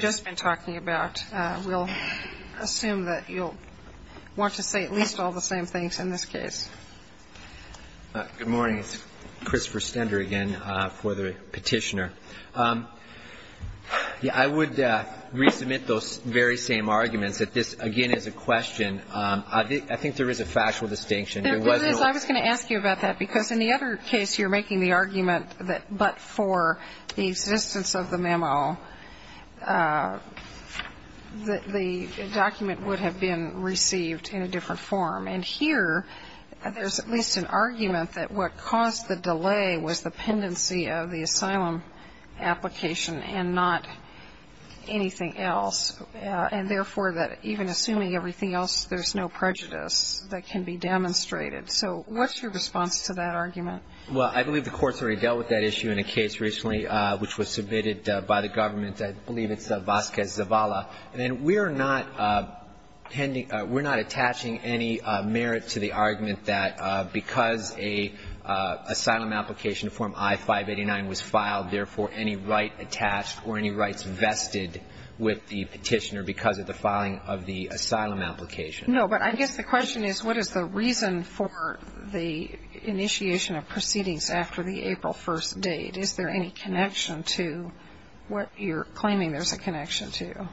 just been talking about. We'll assume that you'll want to say at least all the same things in this case. Good morning. It's Christopher Stender again for the petitioner. I would resubmit those very same arguments that this, again, is a question. I think there is a factual distinction. There is. I was going to ask you about that because in the other case you're making the argument that but for the existence of the memo, the document would have been received in a different form. And here there's at least an argument that what caused the delay was the pendency of the asylum application and not anything else, and therefore that even assuming everything else, there's no prejudice that can be demonstrated. So what's your response to that argument? Well, I believe the Court's already dealt with that issue in a case recently which was submitted by the government. I believe it's Vasquez-Zavala. And we're not attaching any merit to the argument that because an asylum application form I-589 was filed, therefore any right attached or any rights vested with the petitioner because of the filing of the asylum application. No, but I guess the question is what is the reason for the initiation of proceedings after the April 1st date? Is there any connection to what you're claiming there's a connection to?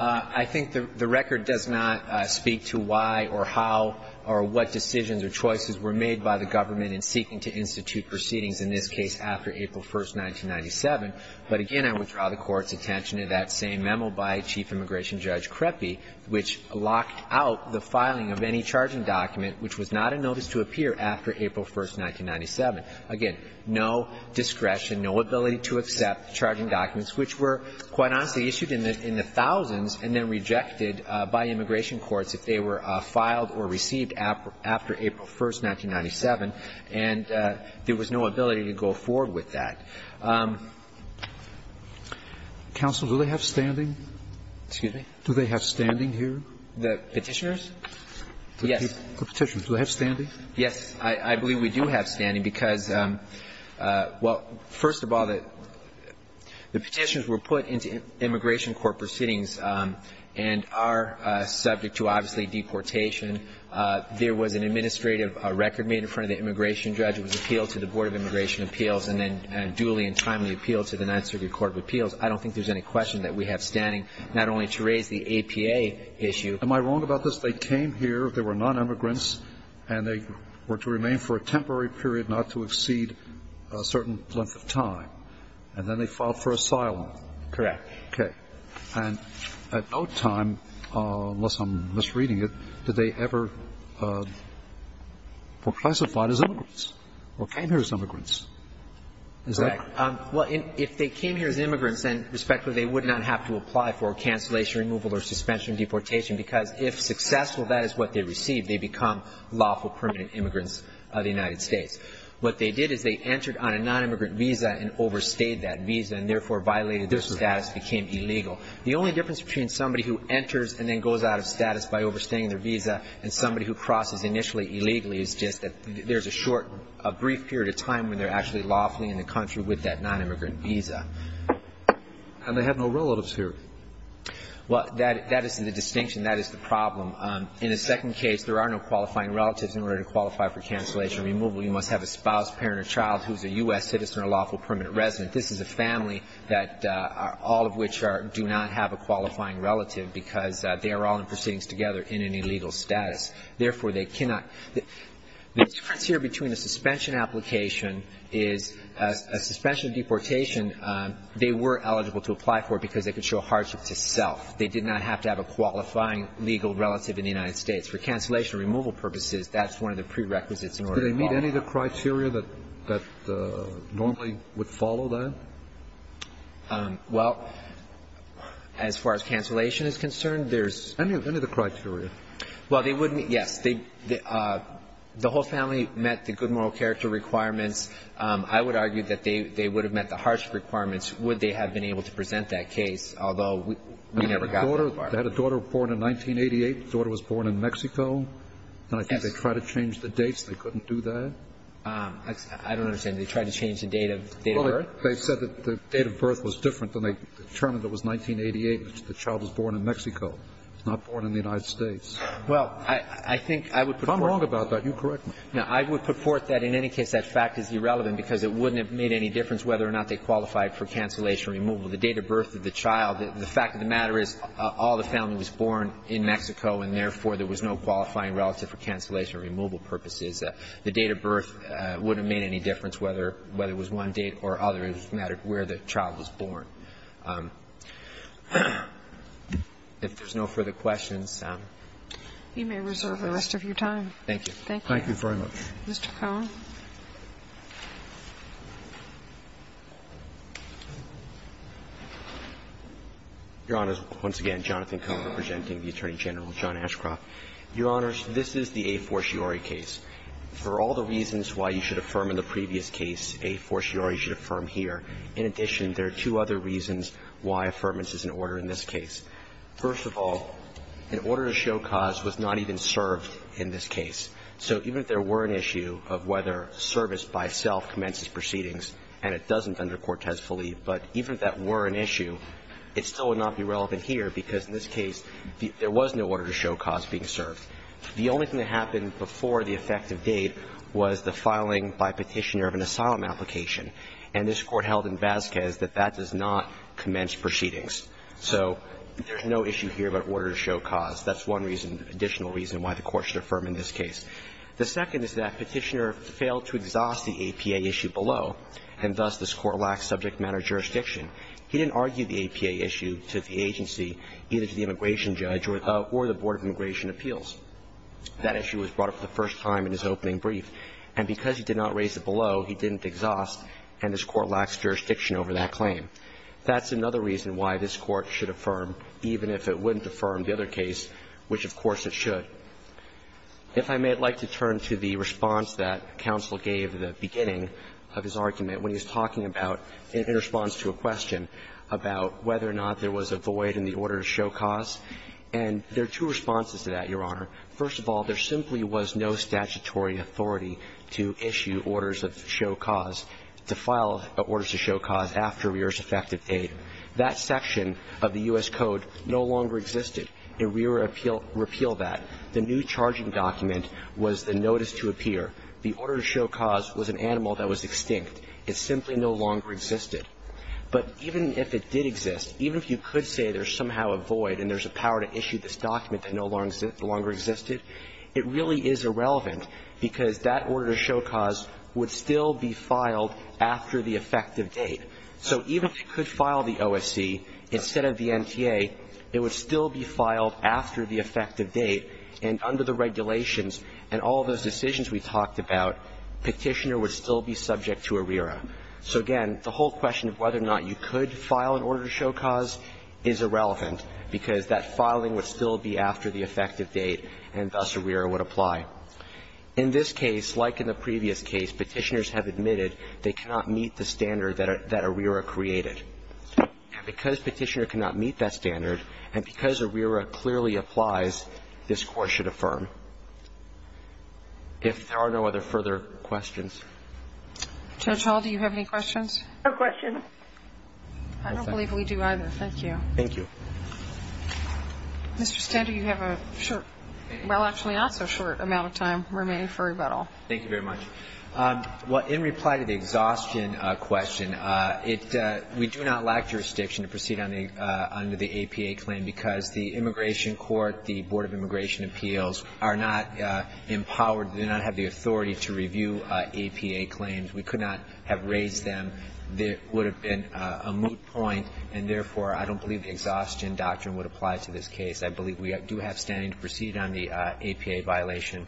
I think the record does not speak to why or how or what decisions or choices were made by the government in seeking to institute proceedings, in this case after April 1st, 1997. But again, I would draw the Court's attention to that same memo by Chief Immigration Judge Krepke which locked out the filing of any charging document which was not a notice to appear after April 1st, 1997. Again, no discretion, no ability to accept charging documents which were, quite honestly, issued in the thousands and then rejected by immigration courts if they were filed or received after April 1st, 1997. And there was no ability to go forward with that. Counsel, do they have standing? Excuse me? Do they have standing here? The Petitioners? Yes. The Petitioners. Do they have standing? Yes. I believe we do have standing because, well, first of all, the Petitioners were put into immigration court proceedings and are subject to, obviously, deportation. There was an administrative record made in front of the immigration judge. It was appealed to the Board of Immigration Appeals and then duly and timely appealed to the Ninth Circuit Court of Appeals. I don't think there's any question that we have standing, not only to raise the APA issue. Am I wrong about this? They came here. They were non-immigrants. And they were to remain for a temporary period, not to exceed a certain length of time. And then they filed for asylum. Correct. Okay. And at no time, unless I'm misreading it, did they ever were classified as immigrants or came here as immigrants? Correct. Well, if they came here as immigrants, then, respectfully, they would not have to apply for cancellation, removal or suspension of deportation because if successful, that is what they received. They become lawful permanent immigrants of the United States. What they did is they entered on a non-immigrant visa and overstayed that visa and, therefore, violated their status, became illegal. The only difference between somebody who enters and then goes out of status by overstaying their visa and somebody who crosses initially illegally is just that there's a short or brief period of time when they're actually lawfully in the country with that non-immigrant visa. And they have no relatives here. Well, that is the distinction. That is the problem. In the second case, there are no qualifying relatives in order to qualify for cancellation or removal. You must have a spouse, parent or child who is a U.S. citizen or lawful permanent resident. This is a family that all of which are do not have a qualifying relative because they are all in proceedings together in an illegal status. Therefore, they cannot. The difference here between a suspension application is a suspension of deportation, they were eligible to apply for it because they could show hardship to self. They did not have to have a qualifying legal relative in the United States. For cancellation or removal purposes, that's one of the prerequisites in order to qualify. Are there any of the criteria that normally would follow that? Well, as far as cancellation is concerned, there's no. Any of the criteria? Well, they wouldn't. Yes. The whole family met the good moral character requirements. I would argue that they would have met the hardship requirements would they have been able to present that case, although we never got that far. They had a daughter born in 1988. The daughter was born in Mexico. And I think they tried to change the dates. They couldn't do that? I don't understand. They tried to change the date of birth? Well, they said that the date of birth was different than they determined it was 1988, which the child was born in Mexico. It's not born in the United States. Well, I think I would put forth. If I'm wrong about that, you correct me. No. I would put forth that in any case that fact is irrelevant because it wouldn't have made any difference whether or not they qualified for cancellation or removal. The date of birth of the child, the fact of the matter is all the family was born in Mexico and, therefore, there was no qualifying relative for cancellation or removal purposes. The date of birth wouldn't have made any difference whether it was one date or other. It just mattered where the child was born. If there's no further questions. You may reserve the rest of your time. Thank you. Thank you. Thank you very much. Mr. Cohen. Your Honors, once again, Jonathan Cohen representing the Attorney General, John Ashcroft. Your Honors, this is the a fortiori case. For all the reasons why you should affirm in the previous case, a fortiori should affirm here. In addition, there are two other reasons why affirmance is an order in this case. First of all, an order to show cause was not even served in this case. So even if there were an issue of whether service by self commences proceedings and it doesn't under Cortez-Philly, but even if that were an issue, it still would not be relevant here because in this case there was no order to show cause being served. The only thing that happened before the effective date was the filing by Petitioner of an asylum application. And this Court held in Vasquez that that does not commence proceedings. So there's no issue here about order to show cause. That's one reason, additional reason, why the Court should affirm in this case. The second is that Petitioner failed to exhaust the APA issue below, and thus this Court lacks subject matter jurisdiction. He didn't argue the APA issue to the agency, either to the immigration judge or the Board of Immigration Appeals. That issue was brought up the first time in his opening brief. And because he did not raise it below, he didn't exhaust, and this Court lacks jurisdiction over that claim. That's another reason why this Court should affirm, even if it wouldn't affirm the other case, which of course it should. If I may, I'd like to turn to the response that counsel gave at the beginning of his argument when he was talking about, in response to a question, about whether or not there was a void in the order to show cause. And there are two responses to that, Your Honor. First of all, there simply was no statutory authority to issue orders of show cause, to file orders to show cause after a year's effective date. That section of the U.S. Code no longer existed. It repealed that. The new charging document was the notice to appear. The order to show cause was an animal that was extinct. It simply no longer existed. But even if it did exist, even if you could say there's somehow a void and there's a power to issue this document that no longer existed, it really is irrelevant because that order to show cause would still be filed after the effective date. So even if you could file the OSC instead of the NTA, it would still be filed after the effective date. And under the regulations and all those decisions we talked about, Petitioner would still be subject to ARERA. So, again, the whole question of whether or not you could file an order to show cause is irrelevant because that filing would still be after the effective date, and thus ARERA would apply. In this case, like in the previous case, Petitioners have admitted they cannot meet the standard that ARERA created. And because Petitioner cannot meet that standard, and because ARERA clearly applies, this Court should affirm. If there are no other further questions. Judge Hall, do you have any questions? No questions. I don't believe we do either. Thank you. Thank you. Mr. Stender, you have a short, well, actually not so short amount of time remaining for rebuttal. Thank you very much. Well, in reply to the exhaustion question, we do not lack jurisdiction to proceed under the APA claim, because the Immigration Court, the Board of Immigration Appeals, are not empowered, do not have the authority to review APA claims. We could not have raised them. There would have been a moot point, and, therefore, I don't believe the exhaustion doctrine would apply to this case. I believe we do have standing to proceed on the APA violation.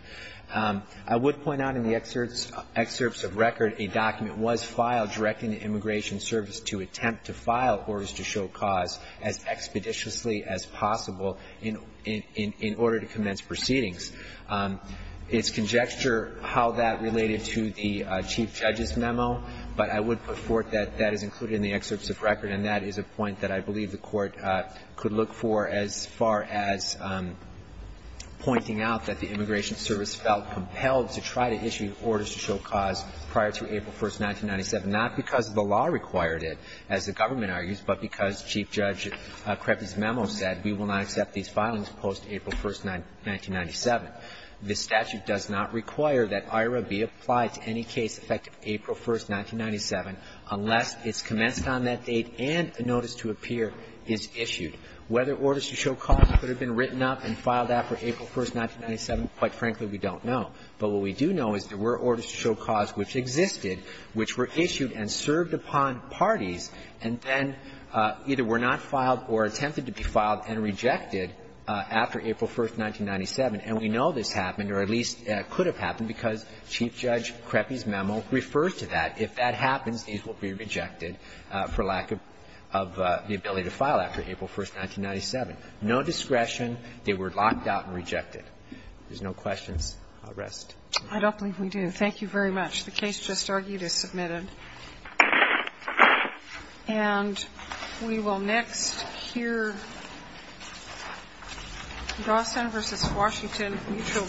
I would point out in the excerpts of record, a document was filed directing the Immigration Service to attempt to file orders to show cause as expeditiously as possible in order to commence proceedings. It's conjecture how that related to the Chief Judge's memo, but I would put forth that that is included in the excerpts of record, and that is a point that I believe the Court could look for as far as pointing out that the Immigration Service felt compelled to try to issue orders to show cause prior to April 1, 1997, not because the law required it, as the government argues, but because Chief Judge Krepke's memo said we will not accept these filings post-April 1, 1997. The statute does not require that IRA be applied to any case effective April 1, 1997 unless it's commenced on that date and a notice to appear is issued. Whether orders to show cause could have been written up and filed out for April 1, 1997, quite frankly, we don't know. But what we do know is there were orders to show cause which existed, which were issued and served upon parties, and then either were not filed or attempted to be filed and rejected after April 1, 1997. And we know this happened, or at least could have happened, because Chief Judge Krepke's memo refers to that. If that happens, these will be rejected for lack of the ability to file after April 1, 1997. No discretion. They were locked out and rejected. If there's no questions, I'll rest. I don't believe we do. Thank you very much. The case just argued is submitted. And we will next hear Grosvenor v. Washington, mutual bank.